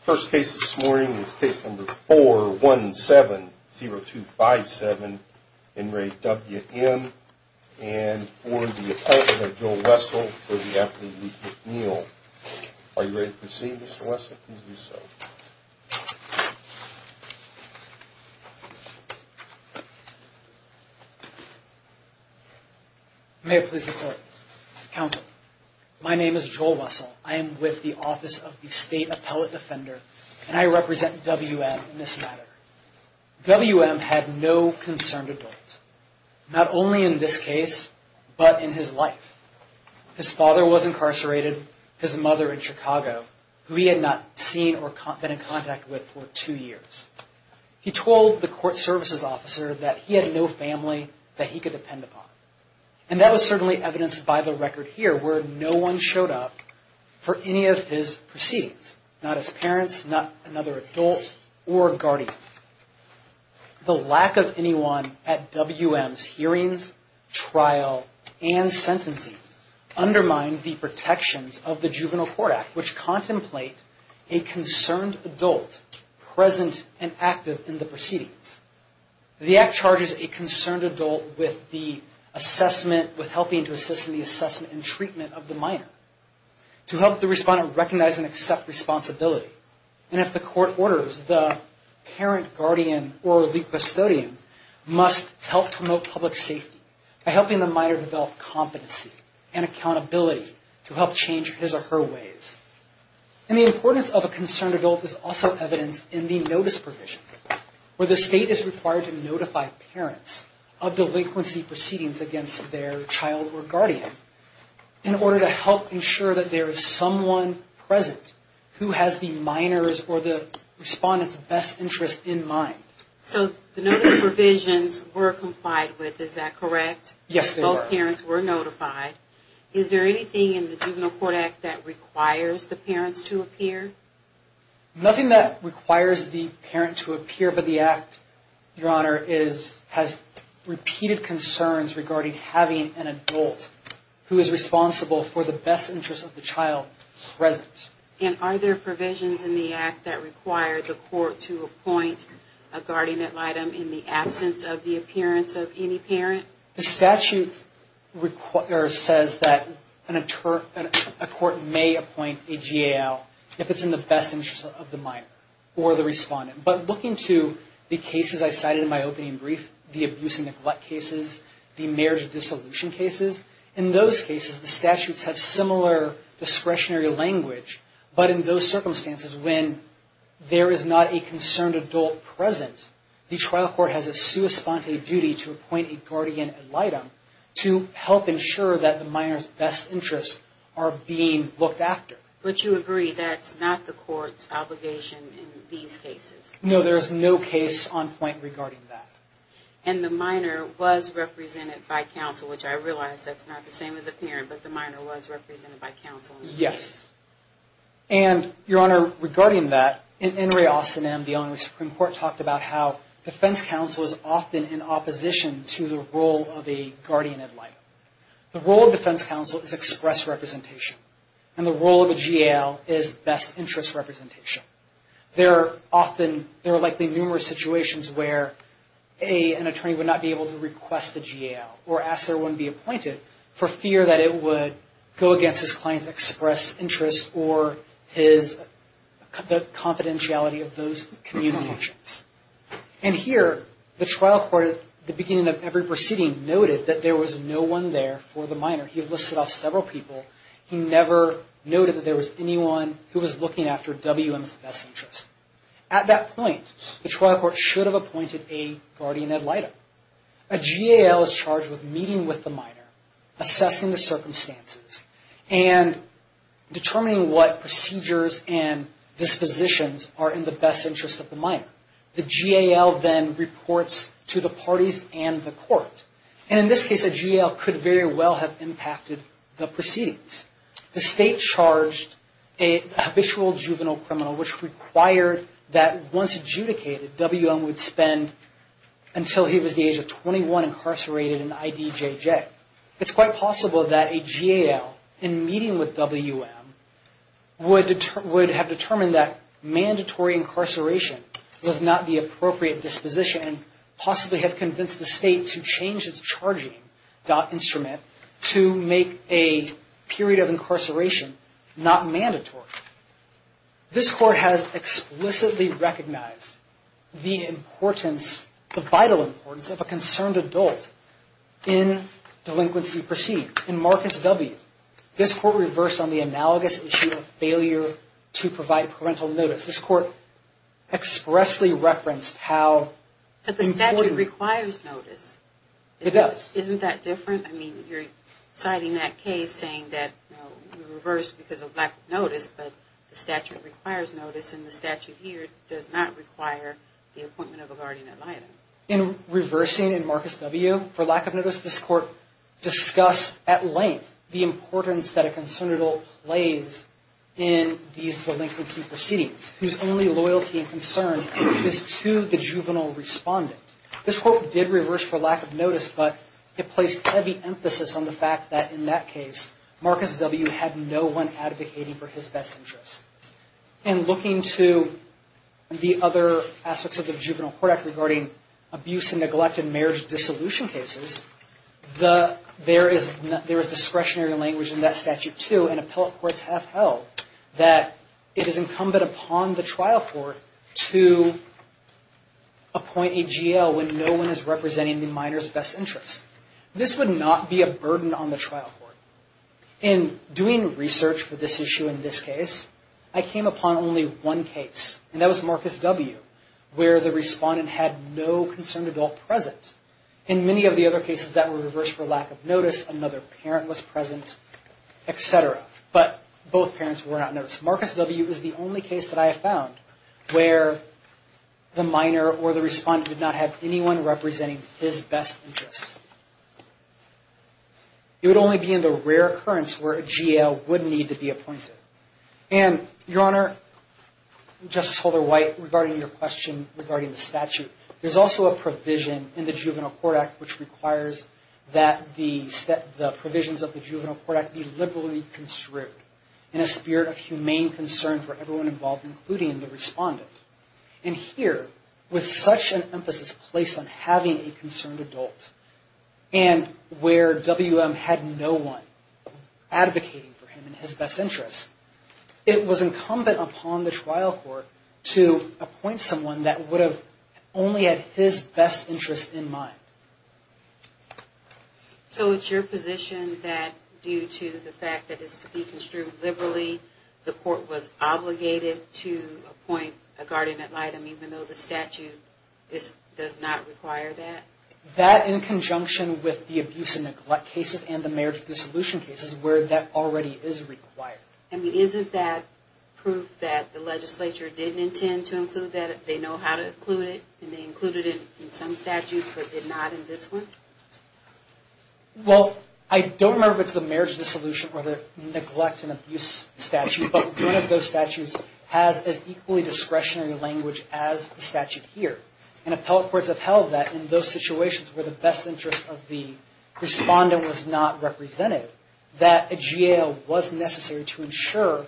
First case this morning is case number 417-0257 in re W.M. and for the appellant of Joel Wessel for the affidavit of McNeil. Are you ready to proceed Mr. Wessel? Please do so. May it please the court. Counsel, my name is Joel Wessel. I am with the office of the state appellate offender and I represent W.M. in this matter. W.M. had no concerned adult. Not only in this case, but in his life. His father was incarcerated, his mother in Chicago who he had not seen or been in contact with for two years. He told the court services officer that he had no family that he could depend upon. And that was certainly evidenced by the record here where no one showed up for any of his proceedings. Not his parents, not another adult or guardian. The lack of anyone at W.M.'s hearings, trial and sentencing undermined the protections of the Juvenile Court Act which contemplate a concerned adult present and active in the proceedings. The act charges a concerned adult with the assessment, with helping to assist in the assessment and treatment of the minor. To help the respondent recognize and accept responsibility. And if the court orders, the parent, guardian or legal custodian must help promote public safety. By helping the minor develop competency and accountability to help change his or her ways. And the importance of a concerned adult is also evidenced in the notice provision. Where the state is required to notify parents of delinquency proceedings against their child or guardian. In order to help ensure that there is someone present who has the minor's or the respondent's best interest in mind. So the notice provisions were complied with, is that correct? Yes, they were. Both parents were notified. Is there anything in the Juvenile Court Act that requires the parents to appear? Nothing that requires the parent to appear. But the act, your honor, has repeated concerns regarding having an adult who is responsible for the best interest of the child present. And are there provisions in the act that require the court to appoint a guardian item in the absence of the appearance of any parent? The statute says that a court may appoint a GAL if it's in the best interest of the minor or the respondent. But looking to the cases I cited in my opening brief, the abuse and neglect cases, the marriage dissolution cases, in those cases the statutes have similar discretionary language. But in those circumstances when there is not a concerned adult present, the trial court has a sui sponte duty to appoint a guardian item to help ensure that the minor's best interests are being looked after. But you agree that's not the court's obligation in these cases? No, there is no case on point regarding that. And the minor was represented by counsel, which I realize that's not the same as a parent, but the minor was represented by counsel? Yes. And, Your Honor, regarding that, in In Re Austen Em, the Illinois Supreme Court talked about how defense counsel is often in opposition to the role of a guardian item. The role of defense counsel is express representation. And the role of a GAL is best interest representation. There are likely numerous situations where, A, an attorney would not be able to request a GAL, or ask that one be appointed, for fear that it would go against his client's express interest or the confidentiality of those communications. And here, the trial court at the beginning of every proceeding noted that there was no one there for the minor. He listed off several people. He never noted that there was anyone who was looking after WM's best interest. At that point, the trial court should have appointed a guardian ed item. A GAL is charged with meeting with the minor, assessing the circumstances, and determining what procedures and dispositions are in the best interest of the minor. The GAL then reports to the parties and the court. And in this case, a GAL could very well have impacted the proceedings. The state charged a habitual juvenile criminal, which required that once adjudicated, WM would spend until he was the age of 21 incarcerated in IDJJ. It's quite possible that a GAL, in meeting with WM, would have determined that mandatory incarceration was not the appropriate disposition, and possibly have convinced the state to change its charging instrument to make a period of incarceration not mandatory. This court has explicitly recognized the importance, the vital importance, of a concerned adult in delinquency proceedings. In Marcus W., this court reversed on the analogous issue of failure to provide parental notice. This court expressly referenced how important... But the statute requires notice. It does. Isn't that different? I mean, you're citing that case, saying that we reversed because of lack of notice, but the statute requires notice, and the statute here does not require the appointment of a guardian ed item. In reversing in Marcus W., for lack of notice, this court discussed at length the importance that a concerned adult plays in these delinquency proceedings, whose only loyalty and concern is to the juvenile respondent. This court did reverse for lack of notice, but it placed heavy emphasis on the fact that, in that case, Marcus W. had no one advocating for his best interests. In looking to the other aspects of the Juvenile Court Act regarding abuse and neglected marriage dissolution cases, there is discretionary language in that statute, too, and appellate courts have held that it is incumbent upon the trial court to appoint a GL when no one is representing the minor's best interests. This would not be a burden on the trial court. In doing research for this issue in this case, I came upon only one case, and that was Marcus W., where the respondent had no concerned adult present. In many of the other cases, that was reversed for lack of notice, another parent was present, etc., but both parents were not noticed. Marcus W. is the only case that I have found where the minor or the respondent did not have anyone representing his best interests. It would only be in the rare occurrence where a GL would need to be appointed. And, Your Honor, Justice Holder-White, regarding your question regarding the statute, there is also a provision in the Juvenile Court Act which requires that the provisions of the Juvenile Court Act be liberally construed in a spirit of humane concern for everyone involved, including the respondent. And here, with such an emphasis placed on having a concerned adult, and where W.M. had no one advocating for him in his best interests, it was incumbent upon the trial court to appoint someone that would have only had his best interests in mind. So it's your position that due to the fact that it's to be construed liberally, the court was obligated to appoint a guardian ad litem, even though the statute does not require that? That, in conjunction with the abuse and neglect cases and the marriage dissolution cases, where that already is required. I mean, isn't that proof that the legislature didn't intend to include that? They know how to include it, and they included it in some statutes, but did not in this one? Well, I don't remember if it's the marriage dissolution or the neglect and abuse statute, but none of those statutes has as equally discretionary language as the statute here. And appellate courts have held that in those situations where the best interest of the respondent was not represented, that a GAO was necessary to ensure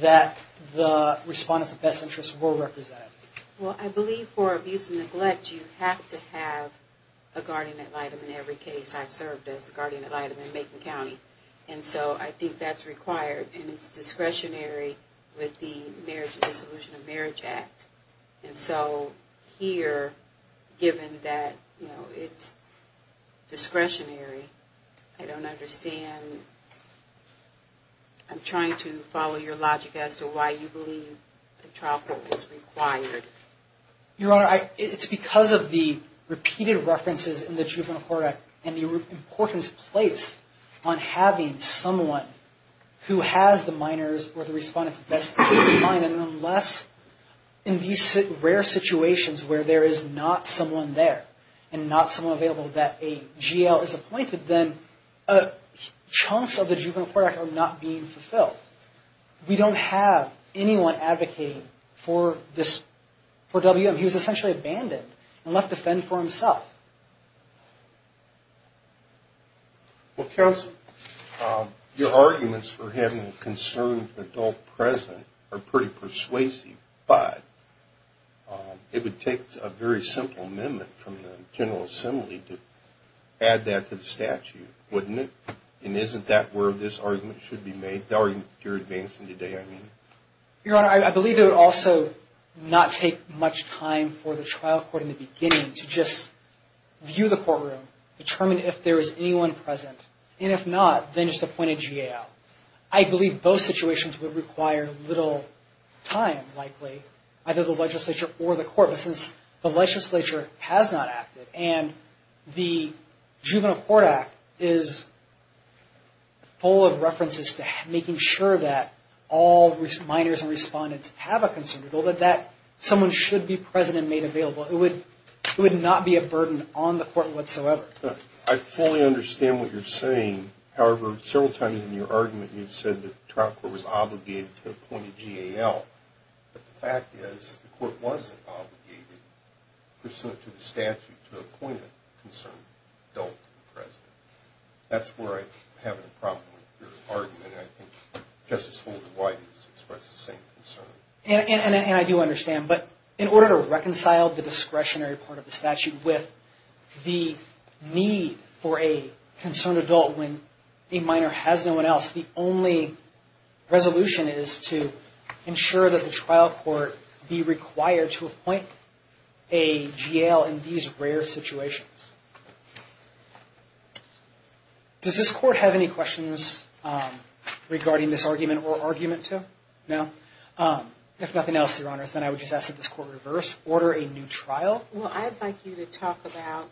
that the respondent's best interests were represented. Well, I believe for abuse and neglect, you have to have a guardian ad litem in every case. I've served as the guardian ad litem in Macon County, and so I think that's required, and it's discretionary with the Marriage and Dissolution of Marriage Act. And so here, given that it's discretionary, I don't understand. I'm trying to follow your logic as to why you believe the trial court was required. Your Honor, it's because of the repeated references in the Juvenile Court Act and the importance placed on having someone who has the minor's or the respondent's best interests in mind. And unless in these rare situations where there is not someone there and not someone available that a GAO is appointed, then chunks of the Juvenile Court Act are not being fulfilled. We don't have anyone advocating for WM. He was essentially abandoned and left to fend for himself. Well, counsel, your arguments for having a concerned adult present are pretty persuasive, but it would take a very simple amendment from the General Assembly to add that to the statute, wouldn't it? And isn't that where this argument should be made? The argument that you're advancing today, I mean. Your Honor, I believe it would also not take much time for the trial court in the beginning to just view the courtroom, determine if there is anyone present. And if not, then just appoint a GAO. I believe both situations would require little time, likely, either the legislature or the court. But since the legislature has not acted and the Juvenile Court Act is full of references to making sure that all minors and respondents have a concerned adult, that someone should be present and made available. It would not be a burden on the court whatsoever. I fully understand what you're saying. However, several times in your argument you've said the trial court was obligated to appoint a GAO. But the fact is, the court wasn't obligated pursuant to the statute to appoint a concerned adult present. That's where I'm having a problem with your argument. I think Justice Holden White has expressed the same concern. And I do understand. But in order to reconcile the discretionary part of the statute with the need for a concerned adult when a minor has no one else, the only resolution is to ensure that the trial court be required to appoint a GAO in these rare situations. Does this court have any questions regarding this argument or argument? No? If nothing else, Your Honors, then I would just ask that this court reverse order a new trial. Well, I'd like you to talk about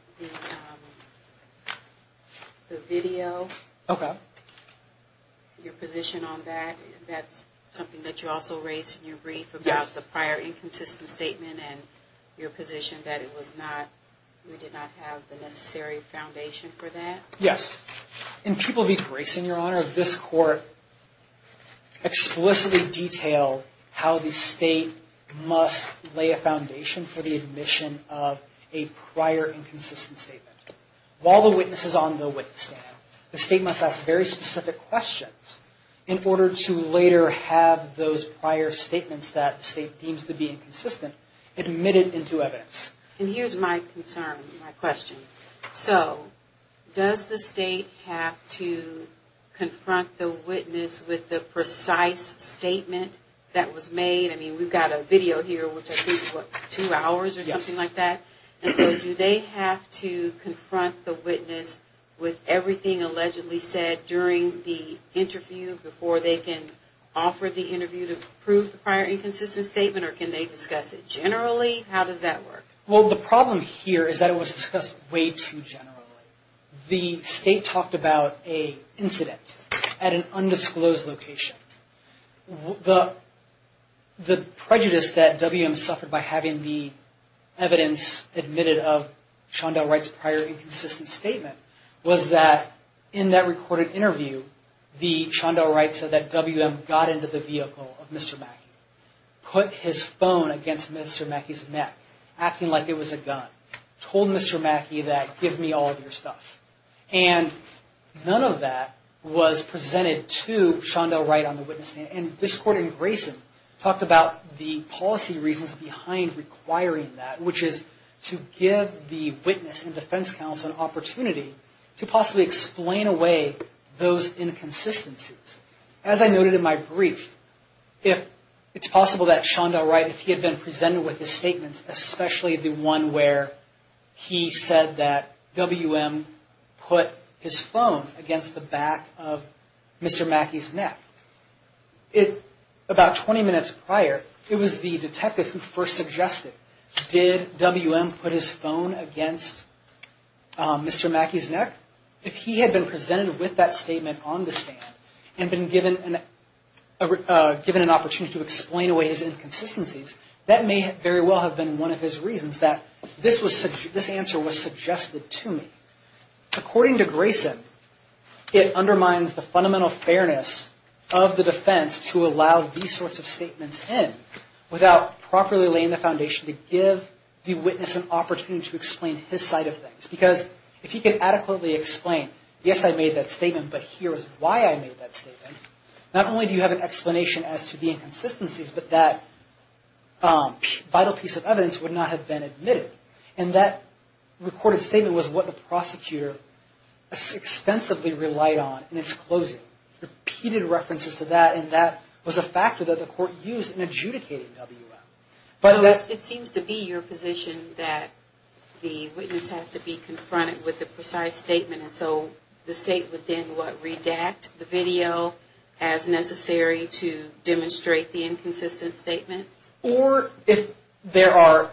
the video. Okay. Your position on that. That's something that you also raised in your brief about the prior inconsistent statement and your position that we did not have the necessary foundation for that? Yes. In People v. Grayson, Your Honor, this court explicitly detailed how the state must lay a foundation for the admission of a prior inconsistent statement. While the witness is on the witness stand, the state must ask very specific questions in order to later have those prior statements that the state deems to be inconsistent admitted into evidence. And here's my concern, my question. So does the state have to confront the witness with the precise statement that was made? I mean, we've got a video here which I think is, what, two hours or something like that? Yes. And so do they have to confront the witness with everything allegedly said during the interview before they can offer the interview to prove the prior inconsistent statement? Or can they discuss it generally? How does that work? Well, the problem here is that it was discussed way too generally. The state talked about an incident at an undisclosed location. The prejudice that WM suffered by having the evidence admitted of Shondell Wright's prior inconsistent statement was that in that recorded interview, Shondell Wright said that WM got into the vehicle of Mr. Mackey, put his phone against Mr. Mackey's neck, acting like it was a gun, told Mr. Mackey that, and none of that was presented to Shondell Wright on the witness stand. And this court in Grayson talked about the policy reasons behind requiring that, which is to give the witness and defense counsel an opportunity to possibly explain away those inconsistencies. As I noted in my brief, it's possible that Shondell Wright, if he had been presented with his statements, especially the one where he said that WM put his phone against the back of Mr. Mackey's neck, about 20 minutes prior, it was the detective who first suggested, did WM put his phone against Mr. Mackey's neck? If he had been presented with that statement on the stand and been given an opportunity to explain away his inconsistencies, that may very well have been one of his reasons that this answer was suggested to me. According to Grayson, it undermines the fundamental fairness of the defense to allow these sorts of statements in without properly laying the foundation to give the witness an opportunity to explain his side of things. Because if he could adequately explain, yes, I made that statement, but here is why I made that statement, not only do you have an explanation as to the inconsistencies, but that vital piece of evidence would not have been admitted. And that recorded statement was what the prosecutor extensively relied on in its closing. Repeated references to that, and that was a factor that the court used in adjudicating WM. So it seems to be your position that the witness has to be confronted with the precise statement, and so the state would then, what, redact the video as necessary to demonstrate the inconsistent statement? Or if there are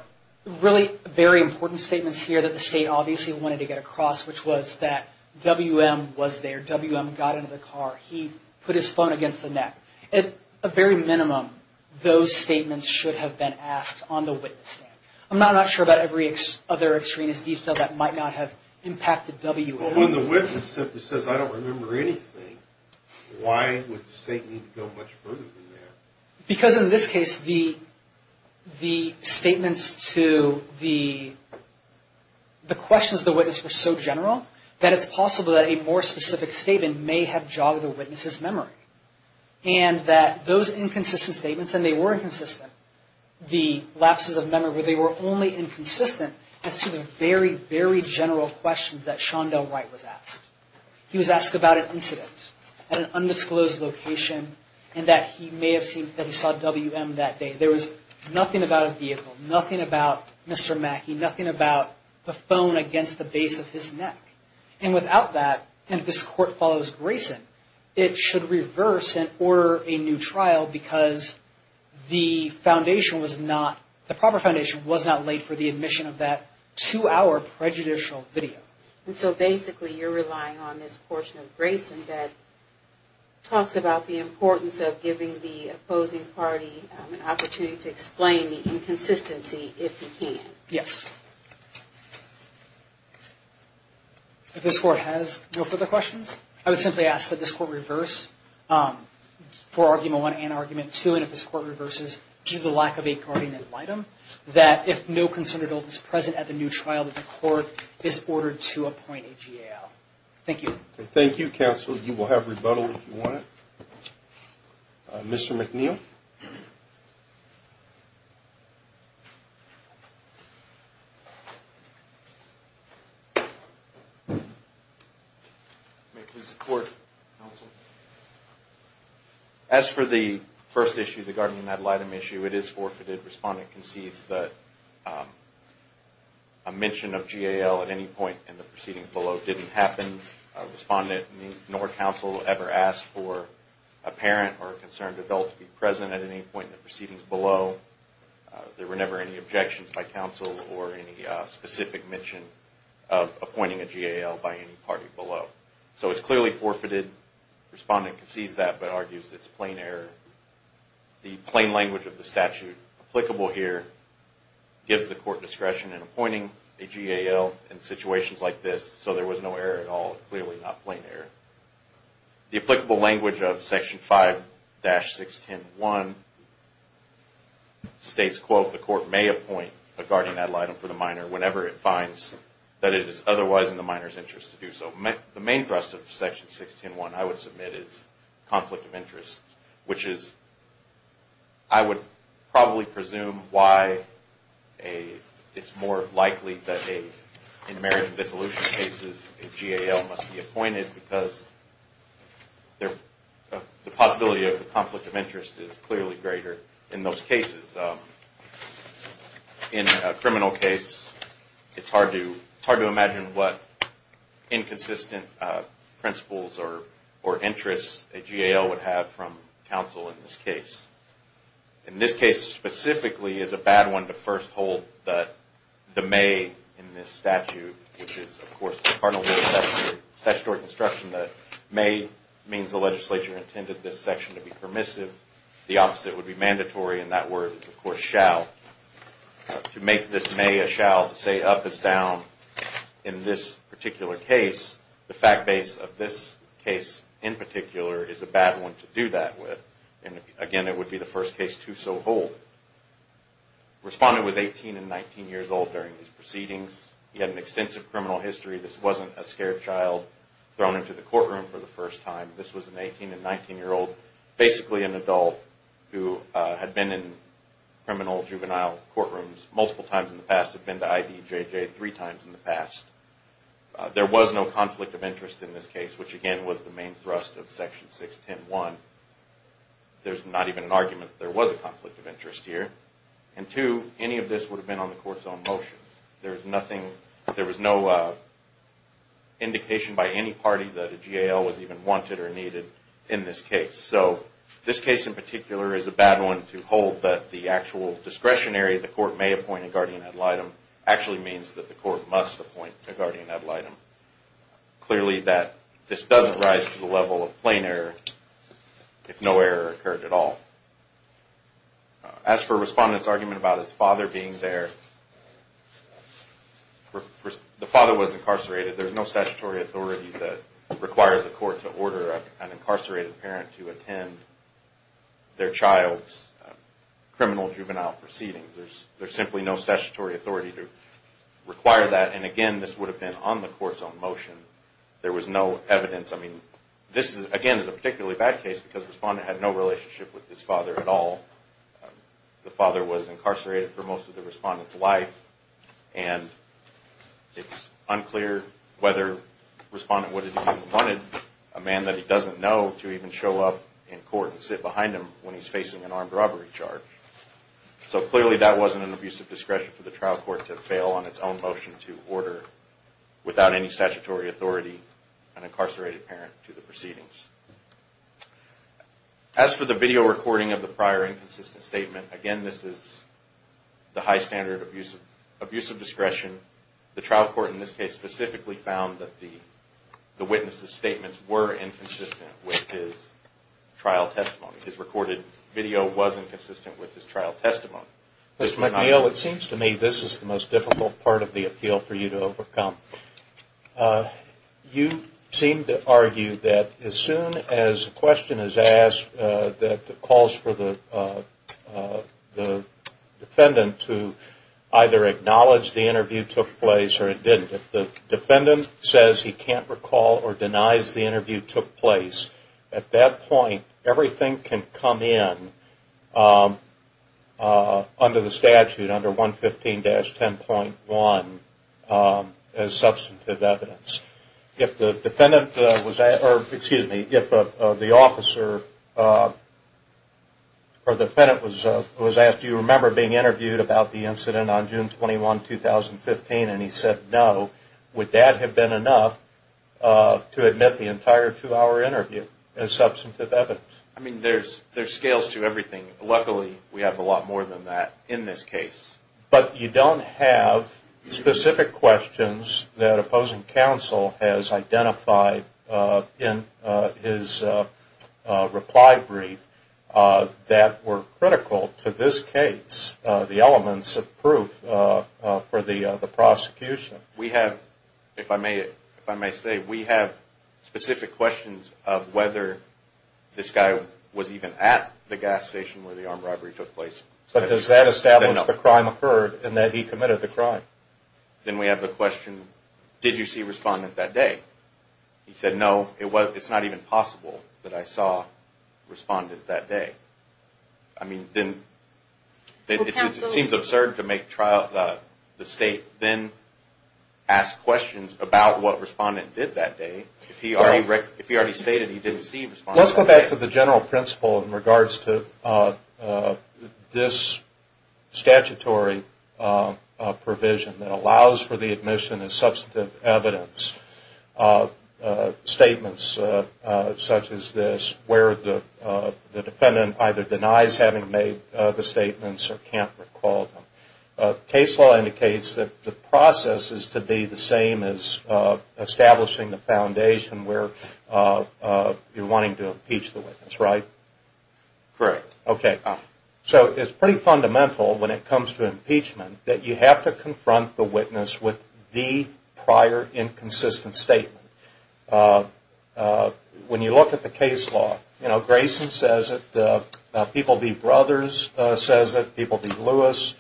really very important statements here that the state obviously wanted to get across, which was that WM was there, WM got into the car, he put his phone against the neck. At the very minimum, those statements should have been asked on the witness stand. I'm not sure about every other extraneous detail that might not have impacted WM. Well, when the witness simply says, I don't remember anything, why would the state need to go much further than that? Because in this case, the statements to the questions of the witness were so general that it's possible that a more specific statement may have jogged the witness's memory. And that those inconsistent statements, and they were inconsistent, the lapses of memory, where they were only inconsistent as to the very, very general questions that Shondell Wright was asked. He was asked about an incident at an undisclosed location, and that he may have seen, that he saw WM that day. There was nothing about a vehicle, nothing about Mr. Mackey, nothing about the phone against the base of his neck. And without that, and if this court follows Grayson, it should reverse and order a new trial because the foundation was not, the proper foundation was not laid for the admission of that two-hour prejudicial video. And so basically, you're relying on this portion of Grayson that talks about the importance of giving the opposing party an opportunity to explain the inconsistency if he can. Yes. If this court has no further questions, I would simply ask that this court reverse for argument one and argument two, and if this court reverses due to the lack of a guardian and litem, that if no concerned adult is present at the new trial, that the court is ordered to appoint a GAO. Thank you. Thank you, counsel. You will have rebuttal if you want it. Mr. McNeil. May it please the court, counsel. As for the first issue, the guardian and litem issue, it is forfeited. Respondent concedes that a mention of GAO at any point in the proceedings below didn't happen. Respondent nor counsel ever asked for a parent or a concerned adult to be present at any point in the proceedings below. There were never any objections by counsel or any specific mention of appointing a GAO by any party below. So it's clearly forfeited. Respondent concedes that but argues it's plain error. The plain language of the statute applicable here gives the court discretion in appointing a GAO in situations like this, so there was no error at all, clearly not plain error. The applicable language of Section 5-6101 states, quote, the court may appoint a GAO for the minor whenever it finds that it is otherwise in the minor's interest to do so. The main thrust of Section 6101, I would submit, is conflict of interest, which is, I would probably presume why it's more likely that in merit of dissolution cases, a GAO must be appointed because the possibility of conflict of interest is clearly greater in those cases. In a criminal case, it's hard to imagine what inconsistent principles or interests a GAO would have from the point of view of counsel in this case. In this case, specifically, it's a bad one to first hold that the may in this statute, which is, of course, the cardinal rule of statutory construction, that may means the legislature intended this section to be permissive. The opposite would be mandatory, and that word is, of course, shall. To make this may a shall, to say up is down in this particular case, the fact base of this case in particular is a bad one to do that with, and again, it would be the first case to so hold. Respondent was 18 and 19 years old during these proceedings. He had an extensive criminal history. This wasn't a scared child thrown into the courtroom for the first time. This was an 18 and 19-year-old, basically an adult, who had been in criminal juvenile courtrooms multiple times in the past, had been to IDJJ three times in the past. There was no conflict of interest in this case, which again was the main thrust of Section 610.1. There's not even an argument that there was a conflict of interest here. And two, any of this would have been on the court's own motion. There was no indication by any party that a GAL was even wanted or needed in this case. So this case in particular is a bad one to hold that the actual discretionary the court may appoint a GAL actually means that the court must appoint a GAL. Clearly that this doesn't rise to the level of plain error if no error occurred at all. As for Respondent's argument about his father being there, the father was incarcerated. There's no statutory authority that requires the court to order an incarcerated parent to attend their child's criminal juvenile proceedings. There's simply no statutory authority to require that. And again, this would have been on the court's own motion. There was no evidence. I mean, this again is a particularly bad case because Respondent had no relationship with his father at all. The father was incarcerated for most of the Respondent's life. And it's unclear whether Respondent would have even wanted a man that he doesn't know to even show up in court and sit behind him when he's facing an armed robbery charge. So clearly that wasn't an abuse of discretion for the trial court to fail on its own motion to order without any statutory authority an incarcerated parent to the proceedings. As for the video recording of the prior inconsistent statement, again this is the high standard abuse of discretion. The trial court in this case specifically found that the witness' statements were inconsistent with his trial testimony. His recorded video was inconsistent with his trial testimony. Mr. McNeil, it seems to me this is the most difficult part of the appeal for you to overcome. You seem to argue that as soon as a question is asked that calls for the defendant to either acknowledge the interview took place or it didn't. If the defendant says he can't recall or denies the interview took place, at that point everything can come in under the statute, under 115-10.1, as substantive evidence. If the officer or defendant was asked, do you remember being interviewed about the incident on June 21, 2015, and he said no, would that have been enough to admit the entire two-hour interview as substantive evidence? I mean there's scales to everything. Luckily we have a lot more than that in this case. But you don't have specific questions that opposing counsel has identified in his reply brief that were critical to this case, the elements of proof for the prosecution. We have, if I may say, we have specific questions of whether this guy was even at the gas station where the armed robbery took place. But does that establish the crime occurred and that he committed the crime? Then we have the question, did you see Respondent that day? He said no, it's not even possible that I saw Respondent that day. I mean it seems absurd to make the state then ask questions about what Respondent did that day. If he already stated he didn't see Respondent that day. Let's go back to the general principle in regards to this statutory provision that allows for the admission as substantive evidence. Statements such as this where the defendant either denies having made the statements or can't recall them. Case law indicates that the process is to be the same as establishing the foundation where you're wanting to impeach the witness, right? Correct. Okay. So it's pretty fundamental when it comes to impeachment that you have to confront the witness with the prior inconsistent statement. When you look at the case law, Grayson says it, People v. Brothers says it, People v. Lewis.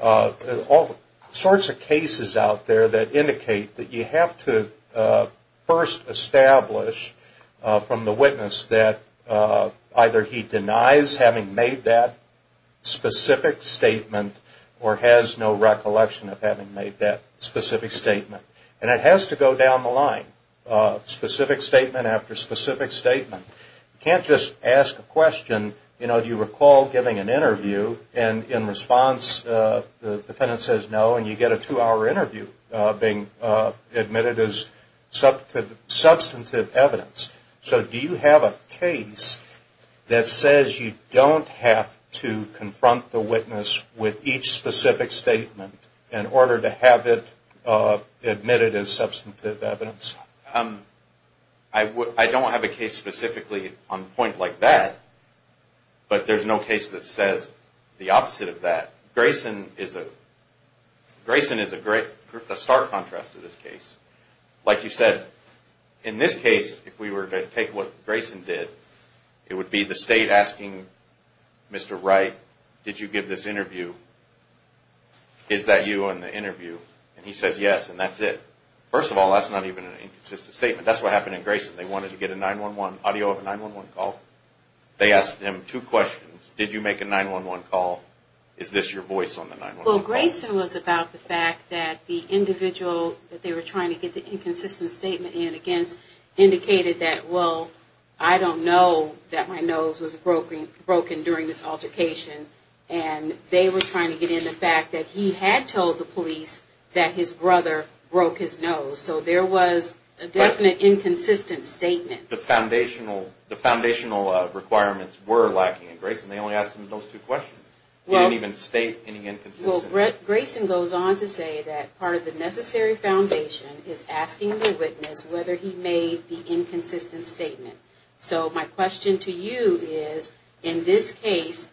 All sorts of cases out there that indicate that you have to first establish from the witness that either he denies having made that specific statement or has no recollection of having made that specific statement. And it has to go down the line, specific statement after specific statement. You can't just ask a question, you know, do you recall giving an interview and in response the defendant says no and you get a two-hour interview being admitted as substantive evidence. So do you have a case that says you don't have to confront the witness with each specific statement in order to have it admitted as substantive evidence? I don't have a case specifically on a point like that, but there's no case that says the opposite of that. Grayson is a star contrast to this case. Like you said, in this case, if we were to take what Grayson did, it would be the state asking Mr. Wright, did you give this interview? Is that you in the interview? And he says yes and that's it. First of all, that's not even an inconsistent statement. That's what happened in Grayson. They wanted to get a 911, audio of a 911 call. They asked him two questions. Did you make a 911 call? Is this your voice on the 911 call? Well, Grayson was about the fact that the individual that they were trying to get the inconsistent statement in against indicated that, well, I don't know that my nose was broken during this altercation. And they were trying to get in the fact that he had told the police that his brother broke his nose. So there was a definite inconsistent statement. The foundational requirements were lacking in Grayson. They only asked him those two questions. He didn't even state any inconsistency. Well, Grayson goes on to say that part of the necessary foundation is asking the witness whether he made the inconsistent statement. So my question to you is, in this case,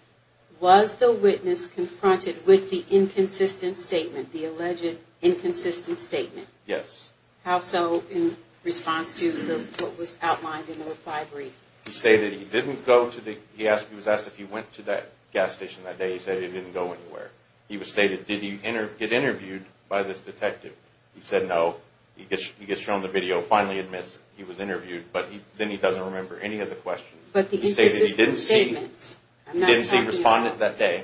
was the witness confronted with the inconsistent statement, the alleged inconsistent statement? Yes. How so in response to what was outlined in the reply brief? He stated he didn't go to the, he was asked if he went to that gas station that day. He said he didn't go anywhere. He stated, did he get interviewed by this detective? He said no. He gets shown the video, finally admits he was interviewed. But then he doesn't remember any of the questions. But the inconsistent statements. He didn't see a respondent that day.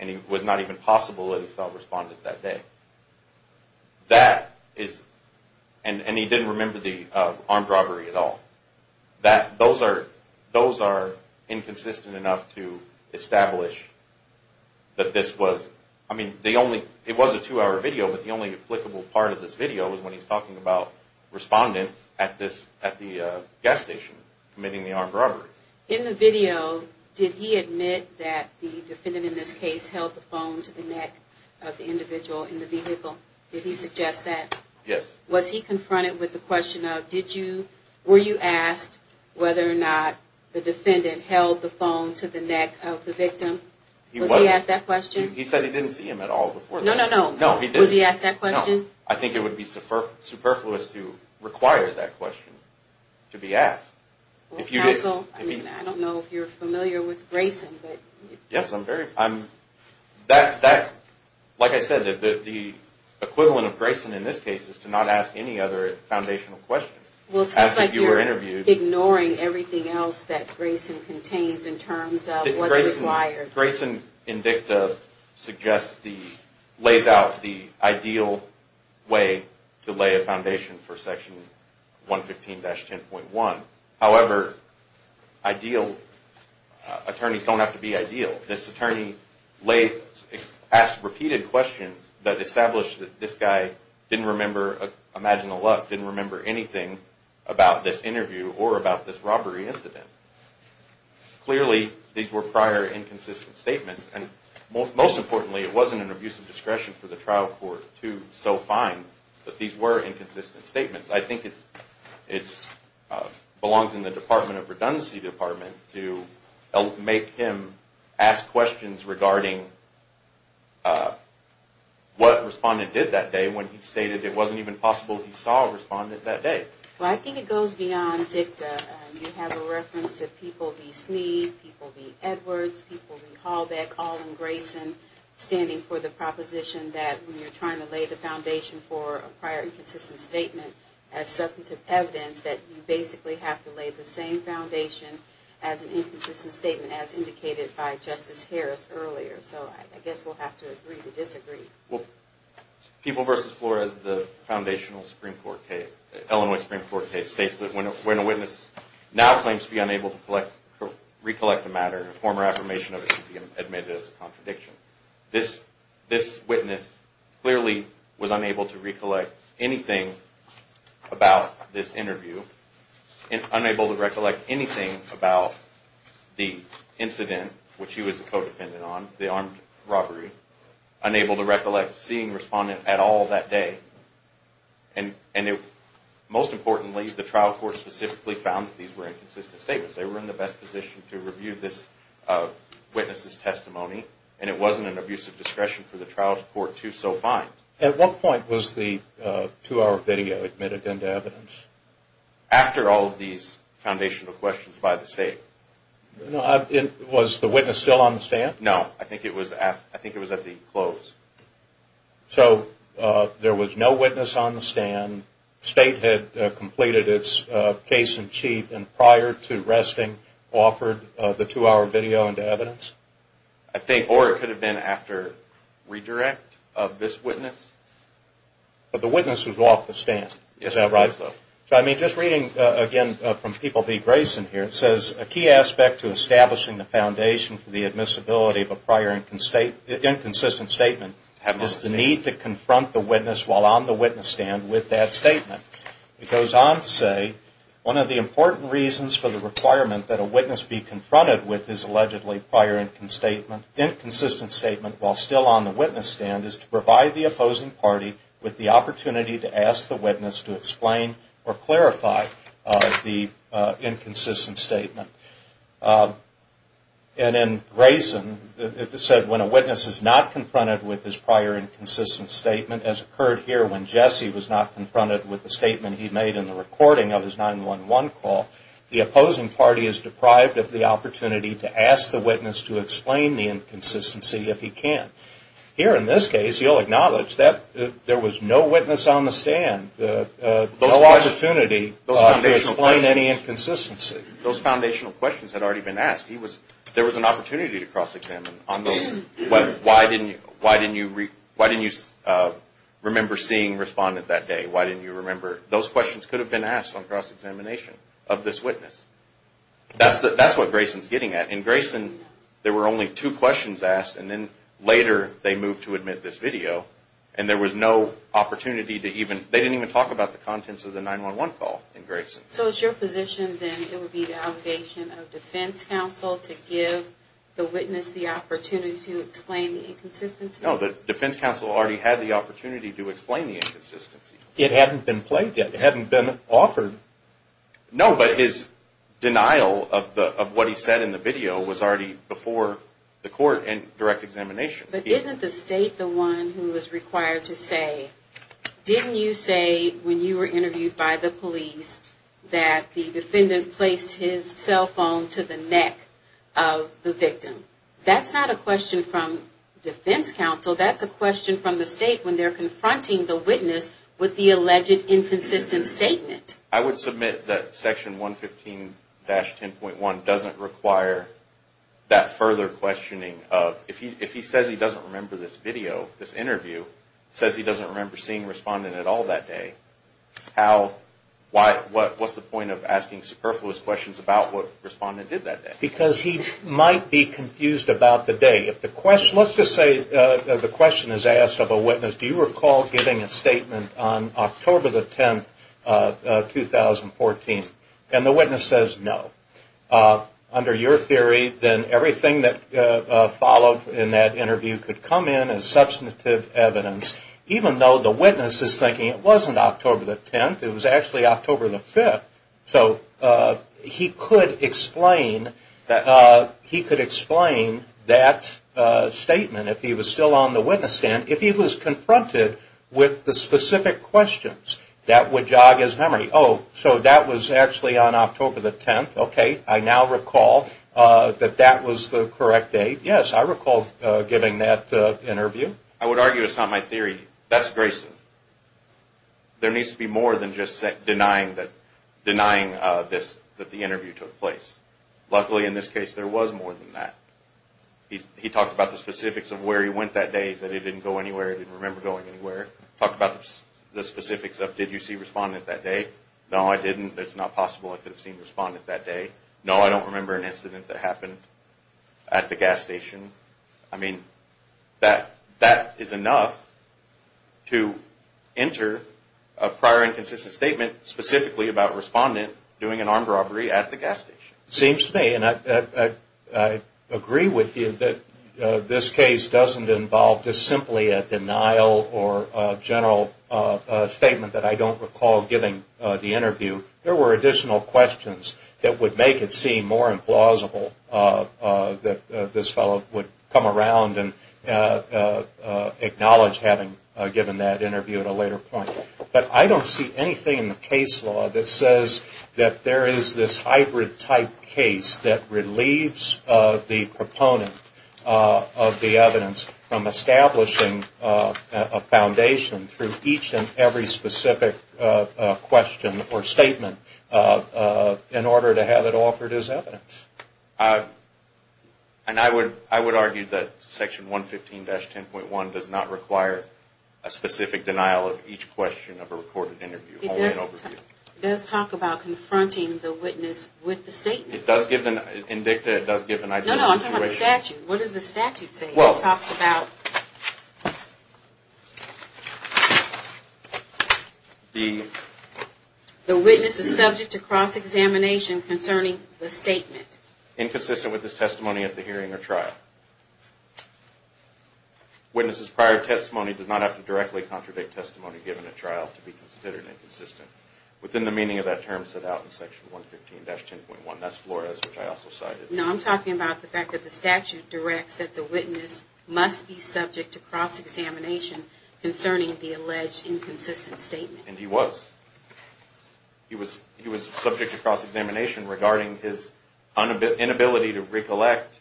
And it was not even possible that he saw a respondent that day. That is, and he didn't remember the armed robbery at all. Those are inconsistent enough to establish that this was, I mean, the only, it was a two-hour video, but the only applicable part of this video is when he's talking about respondent at the gas station committing the armed robbery. In the video, did he admit that the defendant in this case held the phone to the neck of the individual in the vehicle? Did he suggest that? Yes. Was he confronted with the question of, did you, were you asked whether or not the defendant held the phone to the neck of the victim? Was he asked that question? He said he didn't see him at all before that. No, no, no. No, he didn't. Was he asked that question? No. I think it would be superfluous to require that question to be asked. Well, counsel, I mean, I don't know if you're familiar with Grayson, but. Yes, I'm very, I'm, that, like I said, the equivalent of Grayson in this case is to not ask any other foundational questions. Well, it seems like you're ignoring everything else that Grayson contains in terms of what's required. Grayson in dicta suggests the, lays out the ideal way to lay a foundation for section 115-10.1. However, ideal, attorneys don't have to be ideal. This attorney laid, asked repeated questions that established that this guy didn't remember, imagine a lot, didn't remember anything about this interview or about this robbery incident. Clearly, these were prior inconsistent statements. And most importantly, it wasn't an abuse of discretion for the trial court to so find that these were inconsistent statements. I think it belongs in the Department of Redundancy Department to make him ask questions regarding what respondent did that day when he stated it wasn't even possible he saw a respondent that day. Well, I think it goes beyond dicta. You have a reference to people v. Sneed, people v. Edwards, people v. Halbeck, all in Grayson, standing for the proposition that when you're trying to lay the foundation for a prior inconsistent statement as substantive evidence that you basically have to lay the same foundation as an inconsistent statement as indicated by Justice Harris earlier. So, I guess we'll have to agree to disagree. People v. Flores, the foundational Supreme Court case, Illinois Supreme Court case, states that when a witness now claims to be unable to recollect the matter, a former affirmation of it should be admitted as a contradiction. This witness clearly was unable to recollect anything about this interview, unable to recollect anything about the incident which he was a co-defendant on, the armed robbery, unable to recollect seeing a respondent at all that day. And most importantly, the trial court specifically found that these were inconsistent statements. They were in the best position to review this witness's testimony, and it wasn't an abuse of discretion for the trial court to so find. At what point was the two-hour video admitted into evidence? After all of these foundational questions by the State. Was the witness still on the stand? No, I think it was at the close. So, there was no witness on the stand, State had completed its case in chief, and prior to resting offered the two-hour video into evidence? I think, or it could have been after redirect of this witness. But the witness was off the stand, is that right? Yes, it was though. So, I mean, just reading again from people v. Grayson here, it says, a key aspect to establishing the foundation for the admissibility of a prior inconsistent statement is the need to confront the witness while on the witness stand with that statement. It goes on to say, one of the important reasons for the requirement that a witness be confronted with this allegedly prior inconsistent statement while still on the witness stand is to provide the opposing party with the opportunity to ask the witness to explain or clarify the inconsistent statement. And in Grayson, it said, when a witness is not confronted with his prior inconsistent statement, as occurred here when Jesse was not confronted with the statement he made in the recording of his 911 call, the opposing party is deprived of the opportunity to ask the witness to explain the inconsistency if he can. Here, in this case, you'll acknowledge that there was no witness on the stand, no opportunity to explain any inconsistency. Those foundational questions had already been asked. There was an opportunity to cross-examine on those. Why didn't you remember seeing respondent that day? Why didn't you remember? Those questions could have been asked on cross-examination of this witness. That's what Grayson's getting at. In Grayson, there were only two questions asked, and then later they moved to admit this video, and there was no opportunity to even – they didn't even talk about the contents of the 911 call in Grayson. So it's your position then it would be the allegation of defense counsel to give the witness the opportunity to explain the inconsistency? No, the defense counsel already had the opportunity to explain the inconsistency. It hadn't been played yet. It hadn't been offered. No, but his denial of what he said in the video was already before the court and direct examination. But isn't the state the one who is required to say, didn't you say when you were interviewed by the police that the defendant placed his cell phone to the neck of the victim? That's not a question from defense counsel. That's a question from the state when they're confronting the witness with the alleged inconsistent statement. I would submit that Section 115-10.1 doesn't require that further questioning of – if he says he doesn't remember this video, this interview, says he doesn't remember seeing Respondent at all that day, what's the point of asking superfluous questions about what Respondent did that day? Because he might be confused about the day. Let's just say the question is asked of a witness. Do you recall giving a statement on October the 10th, 2014? And the witness says no. Under your theory, then everything that followed in that interview could come in as substantive evidence. Even though the witness is thinking it wasn't October the 10th, it was actually October the 5th. So he could explain that statement if he was still on the witness stand. If he was confronted with the specific questions, that would jog his memory. Oh, so that was actually on October the 10th. Okay, I now recall that that was the correct date. Yes, I recall giving that interview. I would argue it's not my theory. That's Grayson. There needs to be more than just denying this, that the interview took place. Luckily, in this case, there was more than that. He talked about the specifics of where he went that day, that he didn't go anywhere, didn't remember going anywhere. Talked about the specifics of did you see Respondent that day? No, I didn't. It's not possible I could have seen Respondent that day. No, I don't remember an incident that happened at the gas station. I mean, that is enough to enter a prior inconsistent statement specifically about Respondent doing an armed robbery at the gas station. It seems to me, and I agree with you, that this case doesn't involve just simply a denial or a general statement that I don't recall giving the interview. There were additional questions that would make it seem more implausible that this fellow would come around and acknowledge having given that interview at a later point. But I don't see anything in the case law that says that there is this hybrid type case that relieves the proponent of the evidence from establishing a foundation through each and every specific question or statement in order to have it offered as evidence. And I would argue that Section 115-10.1 does not require a specific denial of each question of a recorded interview. It does talk about confronting the witness with the statement. It does give an idea of the situation. No, no, I'm talking about the statute. What does the statute say? It talks about the witness is subject to cross-examination concerning the statement. Inconsistent with his testimony at the hearing or trial. Witness's prior testimony does not have to directly contradict testimony given at trial to be considered inconsistent. Within the meaning of that term set out in Section 115-10.1. That's Flores, which I also cited. No, I'm talking about the fact that the statute directs that the witness must be subject to cross-examination concerning the alleged inconsistent statement. And he was. He was subject to cross-examination regarding his inability to recollect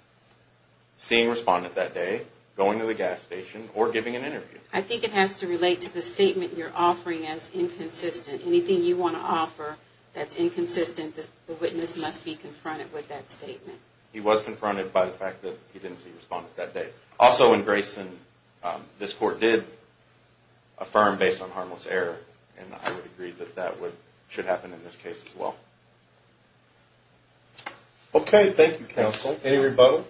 seeing respondent that day, going to the gas station, or giving an interview. I think it has to relate to the statement you're offering as inconsistent. Anything you want to offer that's inconsistent, the witness must be confronted with that statement. He was confronted by the fact that he didn't see respondent that day. Also in Grayson, this Court did affirm based on harmless error. And I would agree that that should happen in this case as well. Okay. Thank you, Counsel. Any rebuttals?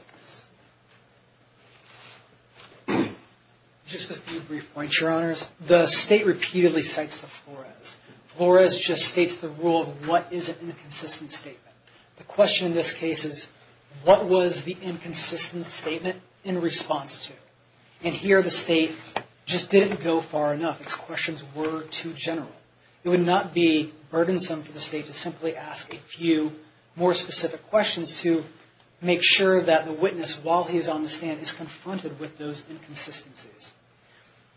Just a few brief points, Your Honors. The State repeatedly cites the Flores. Flores just states the rule of what is an inconsistent statement. The question in this case is, what was the inconsistent statement in response to? And here the State just didn't go far enough. Its questions were too general. It would not be burdensome for the State to simply ask a few more specific questions to make sure that the witness, while he's on the stand, is confronted with those inconsistencies.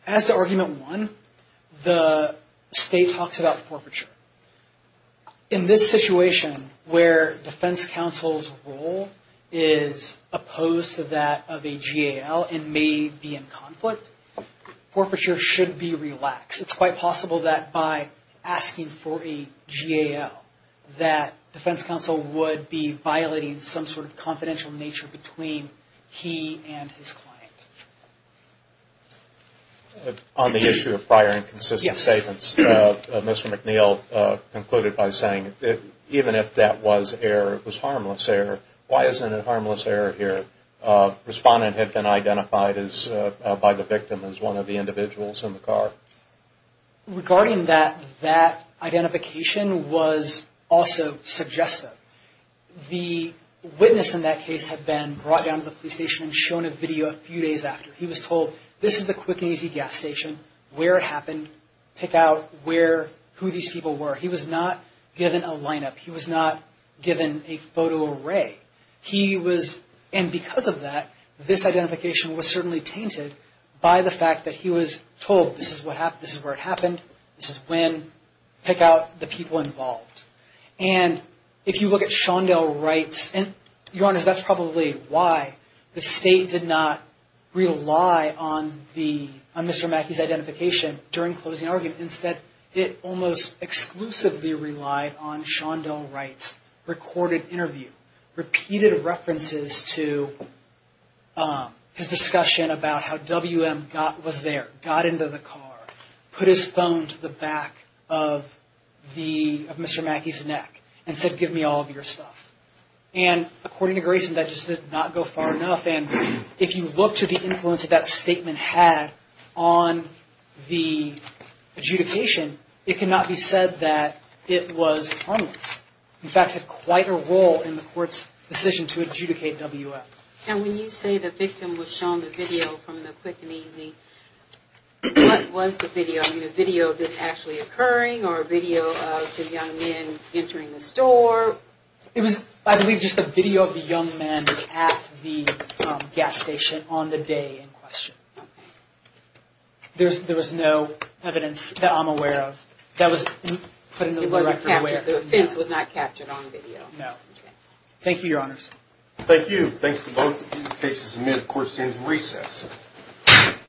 As to Argument 1, the State talks about forfeiture. In this situation, where defense counsel's role is opposed to that of a GAL and may be in conflict, forfeiture should be relaxed. It's quite possible that by asking for a GAL, that defense counsel would be violating some sort of confidential nature between he and his client. On the issue of prior inconsistent statements, Mr. McNeil concluded by saying, even if that was harmless error, why isn't it harmless error here? Respondent had been identified by the victim as one of the individuals in the car. Regarding that, that identification was also suggestive. The witness in that case had been brought down to the police station and shown a video a few days after. He was told, this is the Quick and Easy gas station, where it happened, pick out who these people were. He was not given a lineup. He was not given a photo array. Because of that, this identification was certainly tainted by the fact that he was told, this is where it happened, this is when, pick out the people involved. If you look at Shondell Wright's, and you're honest, that's probably why the State did not rely on Mr. Mackey's identification during closing argument. Instead, it almost exclusively relied on Shondell Wright's recorded interview, repeated references to his discussion about how WM was there. Got into the car, put his phone to the back of Mr. Mackey's neck, and said, give me all of your stuff. According to Grayson, that just did not go far enough. If you look to the influence that statement had on the adjudication, it cannot be said that it was harmless. In fact, it had quite a role in the court's decision to adjudicate WM. When you say the victim was shown the video from the Quick and Easy, what was the video? A video of this actually occurring, or a video of the young men entering the store? It was, I believe, just a video of the young men at the gas station on the day in question. Okay. There was no evidence that I'm aware of that was put into the record. The offense was not captured on video? No. Okay. Thank you, Your Honors. Thank you. Thanks to both of you. The case is admitted. The court stands in recess.